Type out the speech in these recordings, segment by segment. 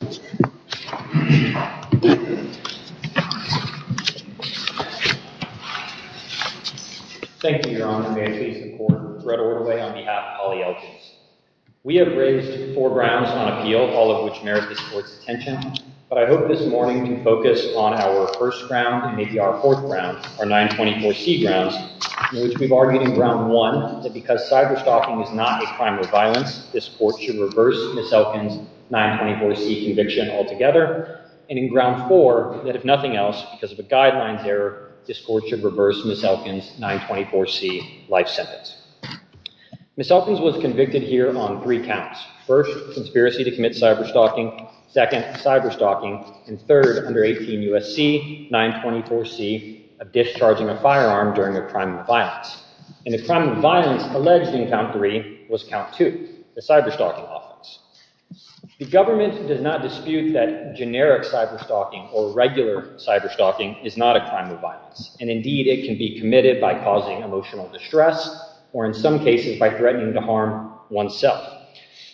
We have raised four grounds on appeal, all of which merit this court's attention, but I hope this morning we can focus on our first ground and maybe our fourth ground, our 924C grounds, in which we've argued in ground one that because cyberstalking is not a crime of violence, this court should reverse Ms. Elkins' 924C conviction altogether, and in ground four, that if nothing else, because of a guidelines error, this court should reverse Ms. Elkins' 924C life sentence. Ms. Elkins was convicted here on three counts, first, conspiracy to commit cyberstalking, second, cyberstalking, and third, under 18 U.S.C., 924C, of discharging a firearm during a crime of violence. And the crime of violence alleged in count three was count two, the cyberstalking offense. The government does not dispute that generic cyberstalking or regular cyberstalking is not a crime of violence, and indeed, it can be committed by causing emotional distress or in some cases by threatening to harm oneself.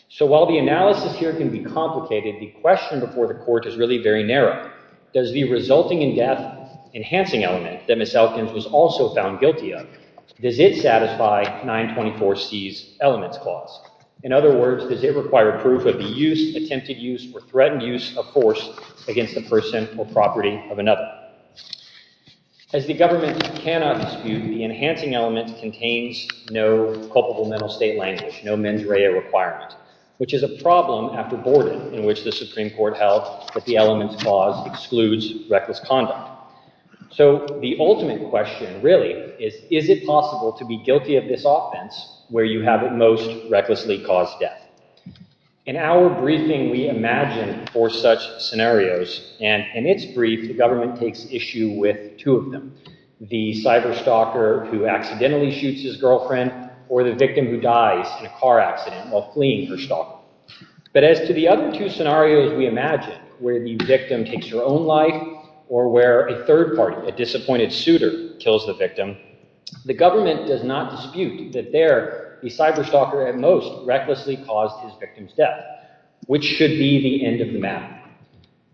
So while the analysis here can be complicated, the question before the court is really very narrow. Does the resulting in death enhancing element that Ms. Elkins was also found guilty of, does it satisfy 924C's elements clause? In other words, does it require proof of the use, attempted use, or threatened use of force against the person or property of another? As the government cannot dispute, the enhancing element contains no culpable mental state language, no mens rea requirement, which is a problem after Borden, in which the Supreme Court's clause excludes reckless conduct. So the ultimate question really is, is it possible to be guilty of this offense where you have at most recklessly caused death? In our briefing, we imagine four such scenarios, and in its brief, the government takes issue with two of them, the cyberstalker who accidentally shoots his girlfriend or the victim who dies in a car accident while fleeing for stalking. But as to the other two scenarios we imagine, where the victim takes her own life or where a third party, a disappointed suitor, kills the victim, the government does not dispute that there, the cyberstalker at most recklessly caused his victim's death, which should be the end of the matter.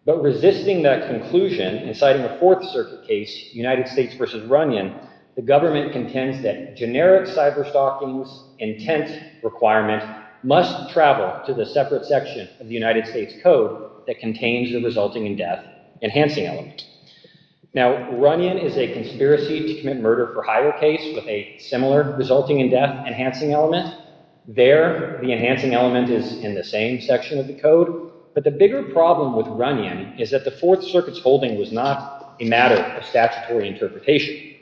But resisting that conclusion, and citing a Fourth Circuit case, United States v. Runyon, the government contends that generic cyberstalking's intent requirement must travel to the separate section of the United States Code that contains the resulting in death enhancing element. Now, Runyon is a conspiracy to commit murder for hire case with a similar resulting in death enhancing element. There, the enhancing element is in the same section of the code, but the bigger problem with Runyon is that the Fourth Circuit's holding was not a matter of statutory interpretation.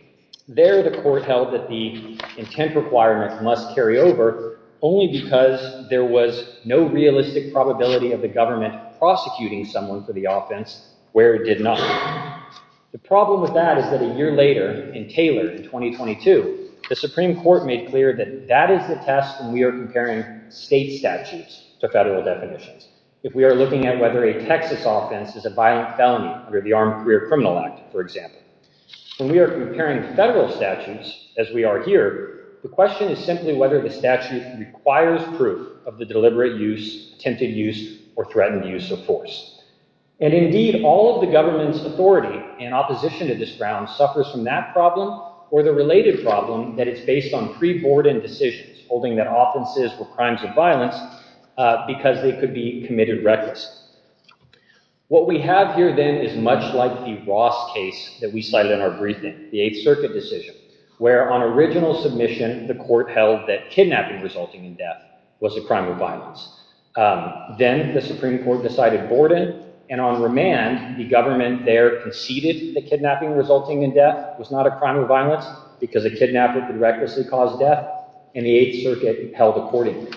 There the court held that the intent requirement must carry over only because there was no realistic probability of the government prosecuting someone for the offense where it did not. The problem with that is that a year later, in Taylor in 2022, the Supreme Court made clear that that is the test when we are comparing state statutes to federal definitions. If we are looking at whether a Texas offense is a violent felony under the Armed Career Criminal Act, for example, when we are comparing federal statutes, as we are here, the question is simply whether the statute requires proof of the deliberate use, attempted use, or threatened use of force. And indeed, all of the government's authority and opposition to this ground suffers from that problem or the related problem that it's based on pre-boarded decisions holding that offenses were crimes of violence because they could be committed recklessly. What we have here then is much like the Ross case that we cited in our briefing, the Eighth Circuit held that kidnapping resulting in death was a crime of violence. Then the Supreme Court decided boarded, and on remand, the government there conceded that kidnapping resulting in death was not a crime of violence because a kidnapper could recklessly cause death, and the Eighth Circuit held accordingly.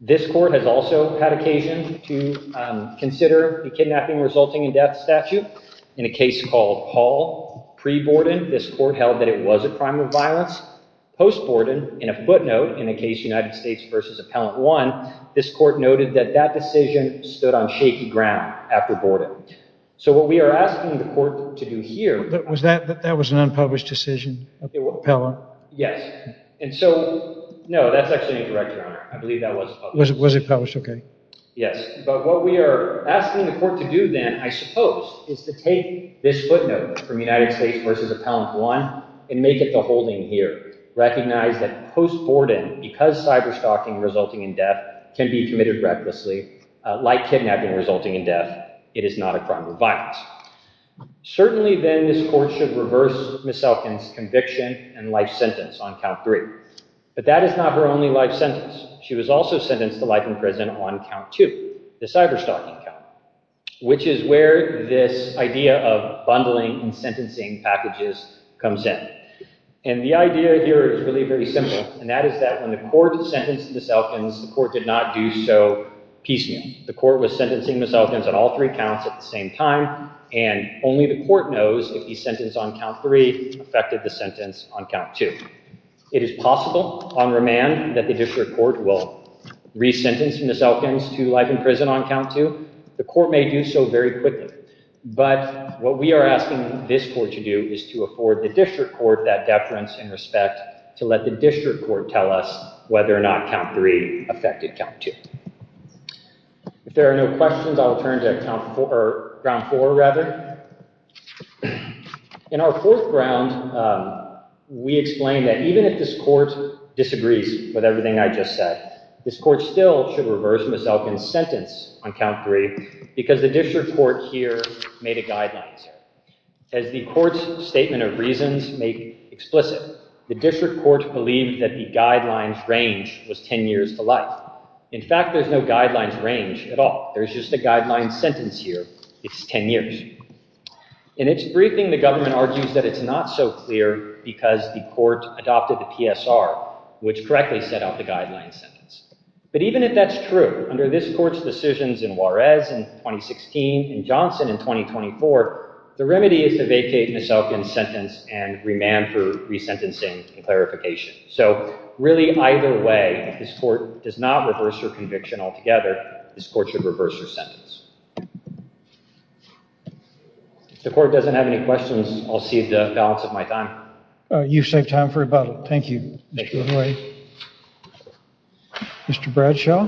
This court has also had occasion to consider the kidnapping resulting in death statute in a case called Hall. Pre-boarded, this court held that it was a crime of violence. Post-boarded, in a footnote in a case United States versus Appellant 1, this court noted that that decision stood on shaky ground after boarded. So what we are asking the court to do here- But was that, that was an unpublished decision of the appellant? Yes. And so, no, that's actually incorrect, Your Honor. I believe that was published. Was it published? Okay. Yes. But what we are asking the court to do then, I suppose, is to take this footnote from United States versus Appellant 1 and make it the holding here, recognize that post-boarded, because cyberstalking resulting in death can be committed recklessly, like kidnapping resulting in death, it is not a crime of violence. Certainly then, this court should reverse Ms. Elkins' conviction and life sentence on count three. But that is not her only life sentence. She was also sentenced to life in prison on count two, the cyberstalking count, which is where this idea of bundling and sentencing packages comes in. And the idea here is really very simple, and that is that when the court sentenced Ms. Elkins, the court did not do so piecemeal. The court was sentencing Ms. Elkins on all three counts at the same time, and only the court knows if the sentence on count three affected the sentence on count two. It is possible, on remand, that the district court will re-sentence Ms. Elkins to life in prison on count two. The court may do so very quickly. But what we are asking this court to do is to afford the district court that deference and respect to let the district court tell us whether or not count three affected count two. If there are no questions, I will turn to count four, or ground four, rather. In our fourth ground, we explain that even if this court disagrees with everything I just said, this court still should reverse Ms. Elkins' sentence on count three, because the district court here made a guideline. As the court's statement of reasons made explicit, the district court believed that the guideline's range was ten years to life. In fact, there's no guideline's range at all. There's just a guideline sentence here. It's ten years. In its briefing, the government argues that it's not so clear because the court adopted the PSR, which correctly set out the guideline sentence. But even if that's true, under this court's decisions in Juarez in 2016 and Johnson in 2024, the remedy is to vacate Ms. Elkins' sentence and remand for re-sentencing and So, really, either way, if this court does not reverse her conviction altogether, this court should reverse her sentence. If the court doesn't have any questions, I'll cede the balance of my time. You've saved time for about, thank you, Mr. Ahoy. Mr. Bradshaw?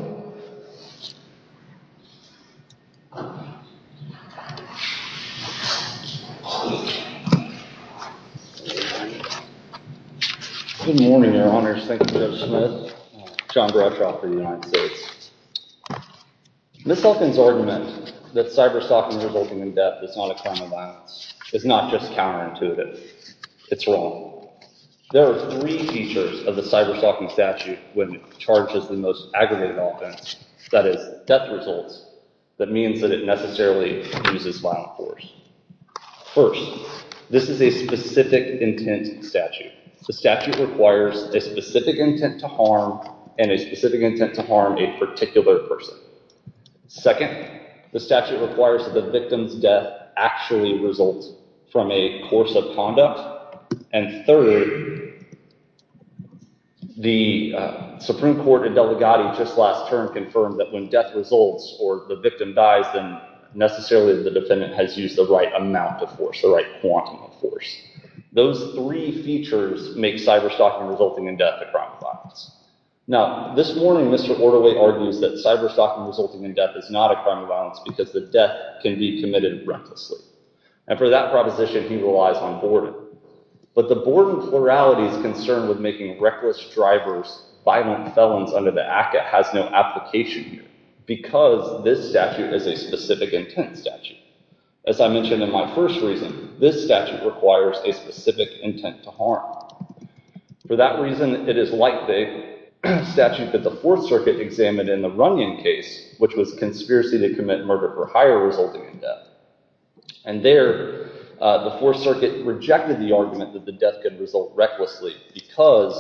Good morning, Your Honors. Thank you, Judge Smith. John Bradshaw for the United States. Ms. Elkins' argument that cyber-stalking resulting in death is not a crime of violence is not just counterintuitive. It's wrong. There are three features of the cyber-stalking statute when it charges the most aggravated offense, that is, death results, that means that it necessarily uses violent force. First, this is a specific intent statute. The statute requires a specific intent to harm and a specific intent to harm a particular person. Second, the statute requires that the victim's death actually result from a course of conduct. And third, the Supreme Court and Delegati just last term confirmed that when death results or the victim dies, then necessarily the defendant has used the right amount of force, the right quantity of force. Those three features make cyber-stalking resulting in death a crime of violence. Now, this morning, Mr. Orderly argues that cyber-stalking resulting in death is not a crime of violence because the death can be committed recklessly. And for that proposition, he relies on Borden. But the Borden plurality's concern with making reckless drivers violent felons under the ACCA has no application here because this statute is a specific intent statute. As I mentioned in my first reason, this statute requires a specific intent to harm. For that reason, it is likely a statute that the Fourth Circuit examined in the Runyon case, which was conspiracy to commit murder for hire resulting in death. And there, the Fourth Circuit rejected the argument that the death could result recklessly because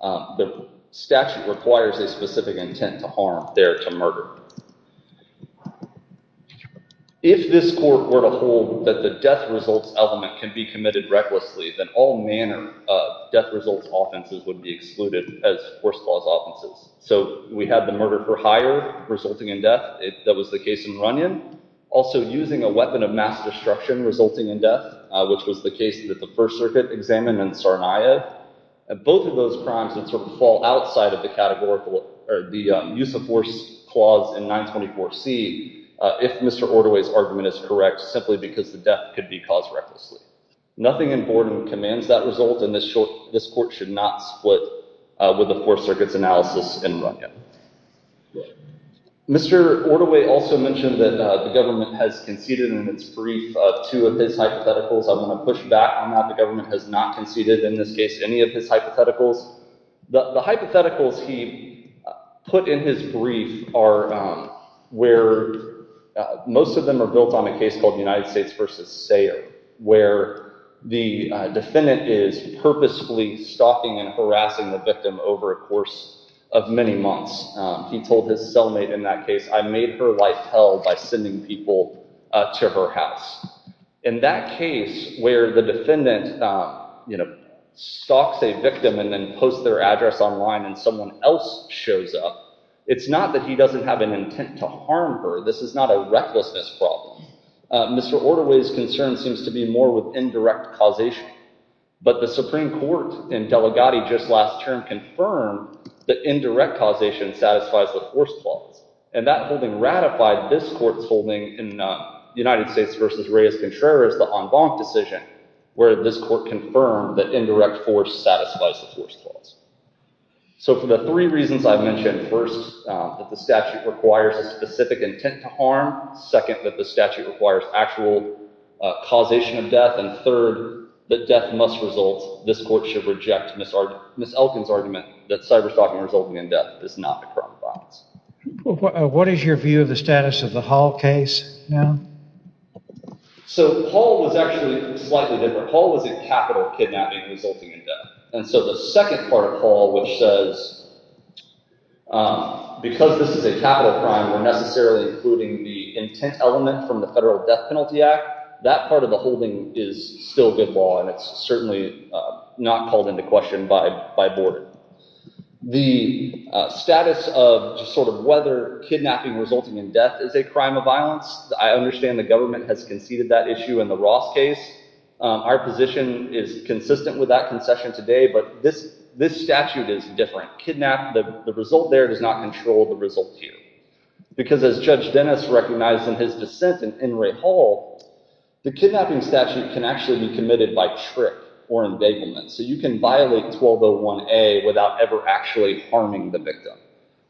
the statute requires a specific intent to harm there to murder. If this court were to hold that the death results element can be committed recklessly, then all manner of death results offenses would be excluded as force clause offenses. So we have the murder for hire resulting in death. That was the case in Runyon. Also using a weapon of mass destruction resulting in death, which was the case that the First Circuit examined in Sarnia. Both of those crimes would fall outside of the use of force clause in 924C if Mr. Ortaway's argument is correct, simply because the death could be caused recklessly. Nothing in Borden commands that result, and this court should not split with the Fourth Circuit's analysis in Runyon. Mr. Ortaway also mentioned that the government has conceded in its brief two of his hypotheticals. I want to push back on how the government has not conceded in this case any of his hypotheticals. The hypotheticals he put in his brief are where most of them are built on a case called United States v. Sayre, where the defendant is purposefully stalking and harassing the victim over a course of many months. He told his cellmate in that case, I made her life hell by sending people to her house. In that case, where the defendant stalks a victim and then posts their address online and someone else shows up, it's not that he doesn't have an intent to harm her. This is not a recklessness problem. Mr. Ortaway's concern seems to be more with indirect causation. But the Supreme Court in Delegati just last term confirmed that indirect causation satisfies the force clause. And that holding ratified this court's holding in United States v. Reyes-Contreras, the en banc decision, where this court confirmed that indirect force satisfies the force clause. So for the three reasons I've mentioned, first, that the statute requires a specific intent to harm, second, that the statute requires actual causation of death, and third, that death must result, this court should reject Ms. Elkin's argument that cyberstalking resulting in death is not a crime of violence. What is your view of the status of the Hall case now? So Hall was actually slightly different. Hall was a capital kidnapping resulting in death. And so the second part of Hall, which says, because this is a capital crime, we're necessarily including the intent element from the Federal Death Penalty Act, that part of the holding is still good law and it's certainly not called into question by board. The status of whether kidnapping resulting in death is a crime of violence, I understand the government has conceded that issue in the Ross case. Our position is consistent with that concession today. But this statute is different. Kidnap, the result there does not control the result here. Because as Judge Dennis recognized in his dissent in Enray Hall, the kidnapping statute can actually be committed by trick or embegglement. So you can violate 1201A without ever actually harming the victim.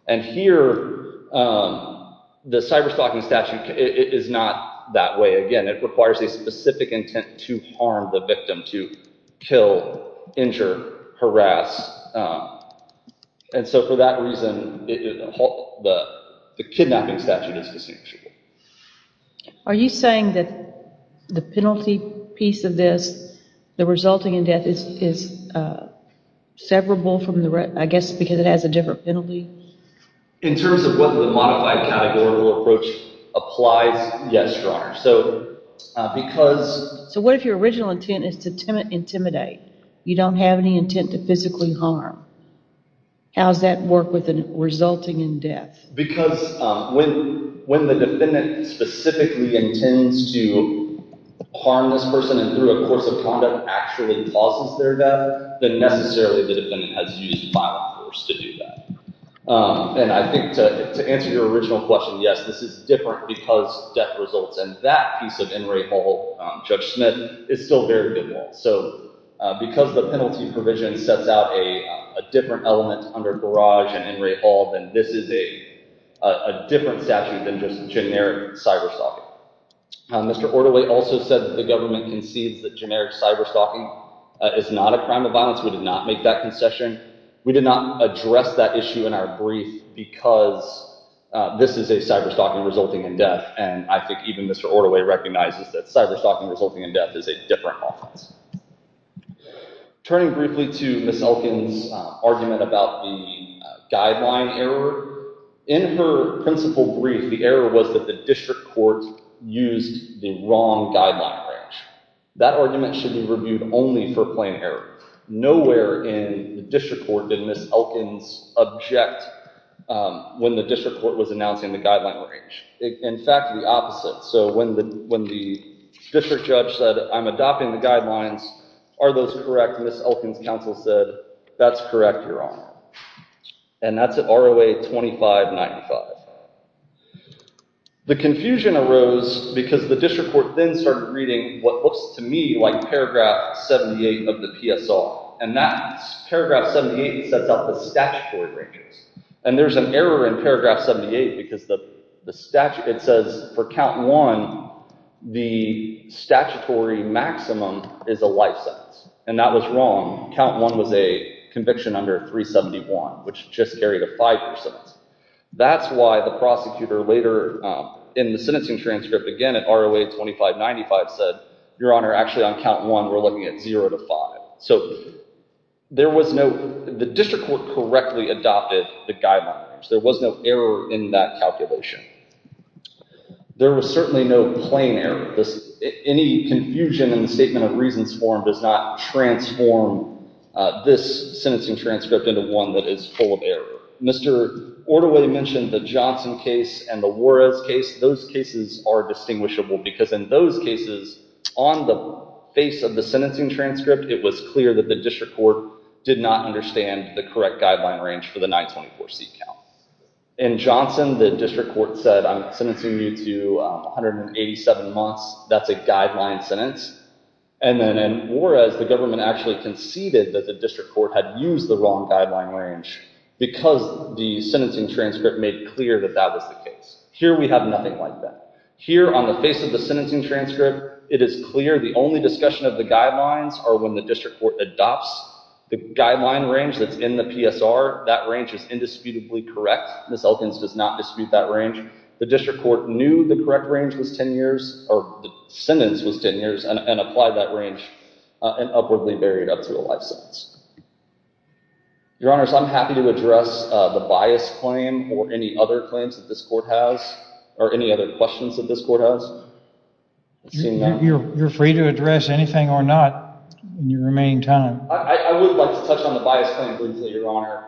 And here, the cyberstalking statute is not that way. Again, it requires a specific intent to harm the victim, to kill, injure, harass. And so for that reason, the kidnapping statute is the same. Are you saying that the penalty piece of this, the resulting in death, is severable from the rest, I guess because it has a different penalty? In terms of whether the modified categorical approach applies, yes, Your Honor. So because... So what if your original intent is to intimidate? You don't have any intent to physically harm. How does that work with the resulting in death? Because when the defendant specifically intends to harm this person and through a course of conduct actually causes their death, then necessarily the defendant has used violence force to do that. And I think to answer your original question, yes, this is different because death results. And that piece of Enray Hall, Judge Smith, is still very good law. So because the penalty provision sets out a different element under garage and Enray Hall, then this is a different statute than just generic cyber-stalking. Mr. Ordoway also said that the government concedes that generic cyber-stalking is not a crime of violence. We did not make that concession. We did not address that issue in our brief because this is a cyber-stalking resulting in death. And I think even Mr. Ordoway recognizes that cyber-stalking resulting in death is a different offense. Turning briefly to Ms. Elkins' argument about the guideline error, in her principal brief, the error was that the district court used the wrong guideline range. That argument should be reviewed only for plain error. Nowhere in the district court did Ms. Elkins object when the district court was announcing the guideline range. In fact, the opposite. So when the district judge said, I'm adopting the guidelines, are those correct? Ms. Elkins' counsel said, that's correct, Your Honor. And that's at ROA 2595. The confusion arose because the district court then started reading what looks to me like paragraph 78 of the PSL. And that paragraph 78 sets out the statutory ranges. And there's an error in paragraph 78 because it says for count one, the statutory maximum is a life sentence. And that was wrong. Count one was a conviction under 371, which just carried a 5%. That's why the prosecutor later in the sentencing transcript again at ROA 2595 said, Your Honor, actually on count one, we're looking at 0 to 5. So there was no, the district court correctly adopted the guidelines. There was no error in that calculation. There was certainly no plain error. Any confusion in the statement of reasons form does not transform this sentencing transcript into one that is full of error. Mr. Ordoway mentioned the Johnson case and the Juarez case. Those cases are distinguishable because in those cases, on the face of the sentencing transcript, it was clear that the district court did not understand the correct guideline range for the 924C count. In Johnson, the district court said, I'm sentencing you to 187 months. That's a guideline sentence. And then in Juarez, the government actually conceded that the district court had used the wrong guideline range because the sentencing transcript made clear that that was the case. Here we have nothing like that. Here on the face of the sentencing transcript, it is clear the only discussion of the guidelines are when the district court adopts the guideline range that's in the PSR. That range is indisputably correct. Ms. Elkins does not dispute that range. The district court knew the correct range was 10 years, or the sentence was 10 years, and applied that range and upwardly varied up to a life sentence. Your Honors, I'm happy to address the bias claim or any other claims that this court has, or any other questions that this court has. You're free to address anything or not in your remaining time. I would like to touch on the bias claim briefly, Your Honor.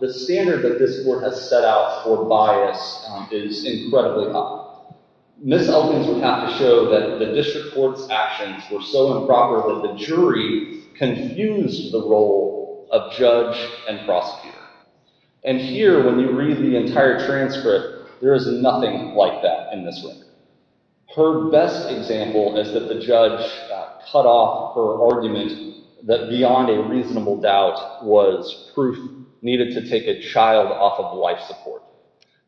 The standard that this court has set out for bias is incredibly high. Ms. Elkins would have to show that the district court's actions were so improper that the jury confused the role of judge and prosecutor. And here, when you read the entire transcript, there is nothing like that in this room. Her best example is that the judge cut off her argument that beyond a reasonable doubt was proof needed to take a child off of life support.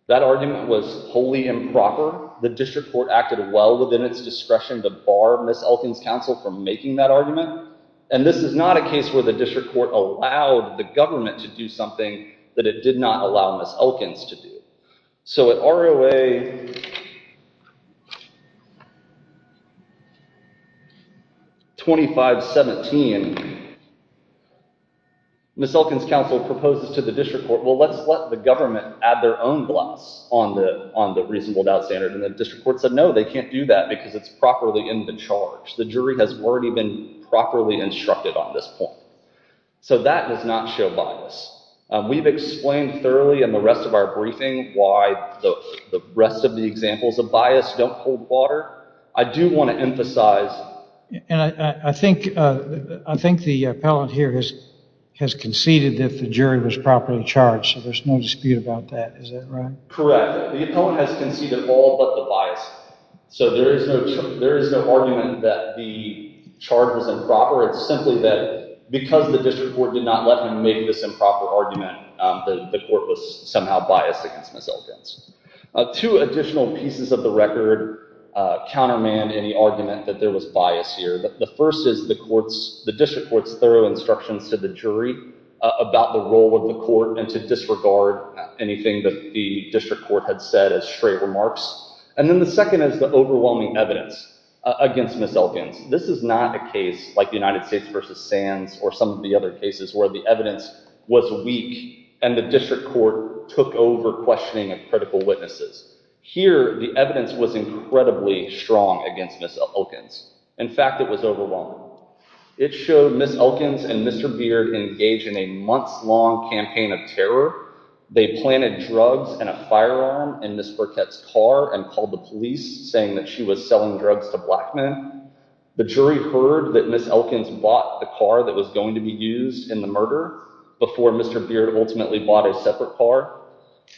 That argument was wholly improper. The district court acted well within its discretion to bar Ms. Elkins' counsel from making that argument. And this is not a case where the district court allowed the government to do something that it did not allow Ms. Elkins to do. So at ROA 2517, Ms. Elkins' counsel proposes to the district court, well, let's let the government add their own gloss on the reasonable doubt standard. And the district court said, no, they can't do that because it's properly in the charge. The jury has already been properly instructed on this point. So that does not show bias. We've explained thoroughly in the rest of our briefing why the rest of the examples of bias don't hold water. I do want to emphasize. And I think the appellant here has conceded that the jury was properly charged. So there's no dispute about that. Is that right? Correct. The appellant has conceded all but the bias. So there is no argument that the charge was improper. It's simply that because the district court did not let him make this improper argument, the court was somehow biased against Ms. Elkins. Two additional pieces of the record countermand any argument that there was bias here. The first is the district court's thorough instructions to the jury about the role of the court and to disregard anything that the district court had said as straight remarks. And then the second is the overwhelming evidence against Ms. Elkins. This is not a case like the United States versus Sands or some of the other cases where the evidence was weak and the district court took over questioning of critical witnesses. Here, the evidence was incredibly strong against Ms. Elkins. In fact, it was overwhelming. It showed Ms. Elkins and Mr. Beard engaged in a months-long campaign of terror. They planted drugs and a firearm in Ms. Burkett's car and called the police, saying that she was selling drugs to black men. The jury heard that Ms. Elkins bought the car that was going to be used in the murder before Mr. Beard ultimately bought a separate car.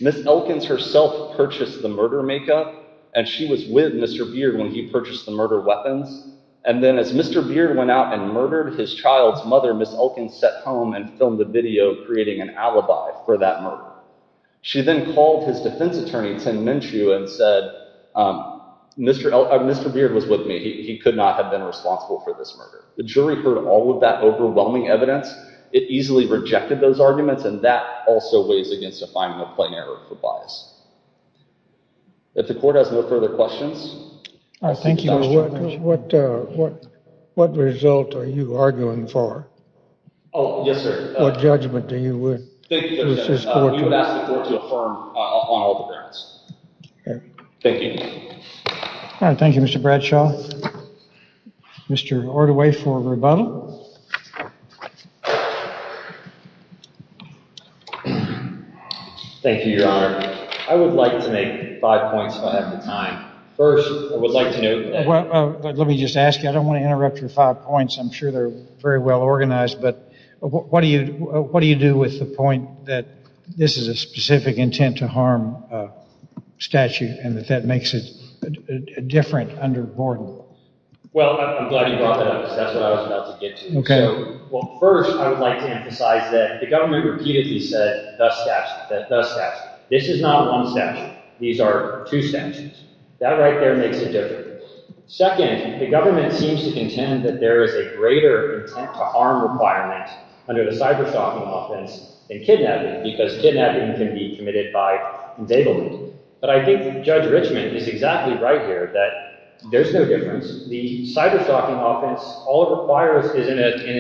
Ms. Elkins herself purchased the murder makeup, and she was with Mr. Beard when he purchased the murder weapons. And then as Mr. Beard went out and murdered his child's mother, Ms. Elkins sat home and filmed the video, creating an alibi for that murder. She then called his defense attorney, Tim Minshew, and said, Mr. Beard was with me. He could not have been responsible for this murder. The jury heard all of that overwhelming evidence. It easily rejected those arguments, and that also weighs against defining a plain error for bias. If the court has no further questions. All right, thank you. What result are you arguing for? Oh, yes, sir. What judgment do you would? We would ask the court to affirm on all the grounds. Okay. Thank you. Thank you, Mr. Bradshaw. Mr. Ortaway for rebuttal. Thank you, Your Honor. I would like to make five points if I have the time. First, I would like to know. Let me just ask you. I don't want to interrupt your five points. I'm sure they're very well organized. But what do you do with the point that this is a specific intent to harm a statute, and that that makes it different under Borden? Well, I'm glad you brought that up, because that's what I was about to get to. Okay. Well, first, I would like to emphasize that the government repeatedly said, the statute, the statute. This is not one statute. These are two statutes. That right there makes a difference. Second, the government seems to contend that there is a greater intent to harm requirement under the cyber-stalking offense than kidnapping, because kidnapping can be committed by indictment. But I think Judge Richmond is exactly right here, that there's no difference. The cyber-stalking offense, all it requires is an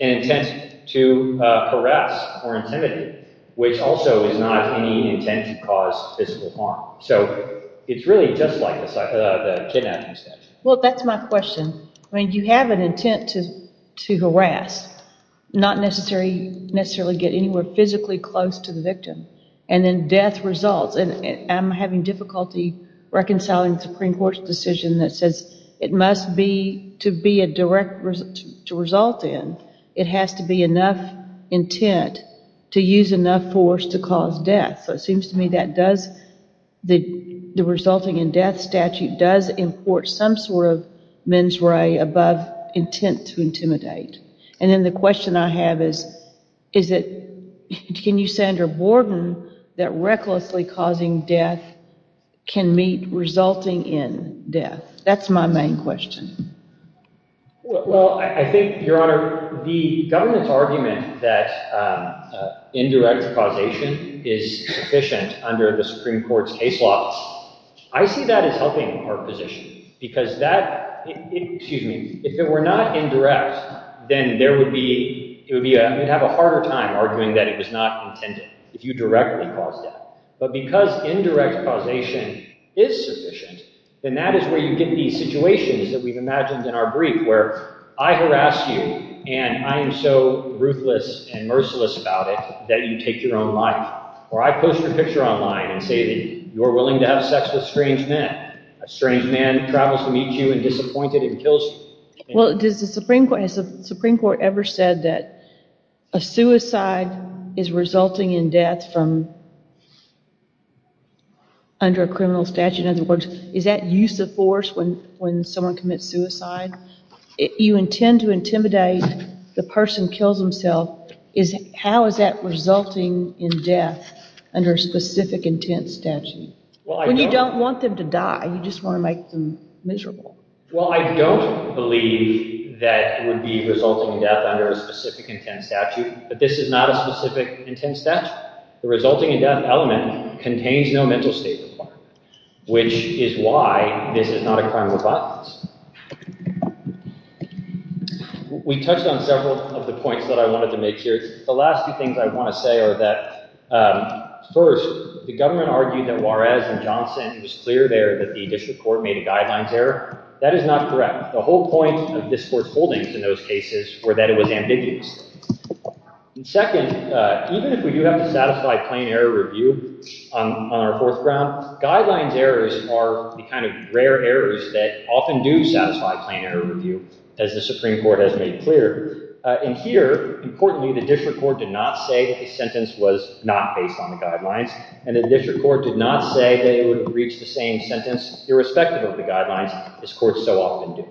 intent to caress or intimidate, which also is not any intent to cause physical harm. So it's really just like the kidnapping statute. Well, that's my question. I mean, you have an intent to harass, not necessarily get anywhere physically close to the victim. And then death results. And I'm having difficulty reconciling the Supreme Court's decision that says, it must be to be a direct result in. It has to be enough intent to use enough force to cause death. So it seems to me that the resulting in death statute does import some sort of mens re above intent to intimidate. And then the question I have is, can you say under Borden that recklessly causing death can meet resulting in death? That's my main question. Well, I think, Your Honor, the government's argument that indirect causation is sufficient under the Supreme Court's case law, I see that as helping our position. Because that, excuse me, if it were not indirect, then there would be, it would have a harder time arguing that it was not intended if you directly caused death. But because indirect causation is sufficient, then that is where you get these situations that we've imagined in our brief, where I harass you, and I am so ruthless and merciless about it, that you take your own life. Or I post your picture online and say that you're willing to have sex with strange men. A strange man travels to meet you and disappoints you and kills you. Well, has the Supreme Court ever said that a suicide is resulting in death from under a criminal statute? In other words, is that use of force when someone commits suicide? You intend to intimidate, the person kills himself. How is that resulting in death under a specific intent statute? When you don't want them to die, you just want to make them miserable. Well, I don't believe that it would be resulting in death under a specific intent statute. But this is not a specific intent statute. The resulting in death element contains no mental state requirement, which is why this is not a crime of violence. We touched on several of the points that I wanted to make here. The last few things I want to say are that, first, the government argued that Juarez and Johnson, it was clear there that the district court made a guidelines error. That is not correct. The whole point of this court's holdings in those cases were that it was ambiguous. Second, even if we do have a satisfied plain error review on our fourth ground, guidelines errors are the kind of rare errors that often do satisfy plain error review, as the Supreme Court has made clear. And here, importantly, the district court did not say that the sentence was not based on the guidelines. And the district court did not say that it would have reached the same sentence, irrespective of the guidelines, as courts so often do.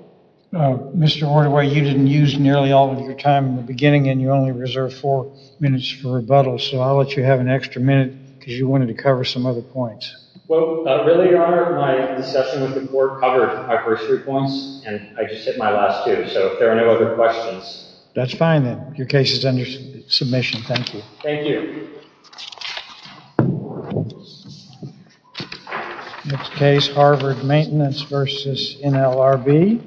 Mr. Hortoway, you didn't use nearly all of your time in the beginning, and you only reserved four minutes for rebuttal. So I'll let you have an extra minute, because you wanted to cover some other points. Well, really, Your Honor, my discussion with the court covered my first three points, and I just hit my last two. So if there are no other questions. That's fine, then. Your case is under submission. Thank you. Thank you. Next case, Harvard Maintenance v. NLRB.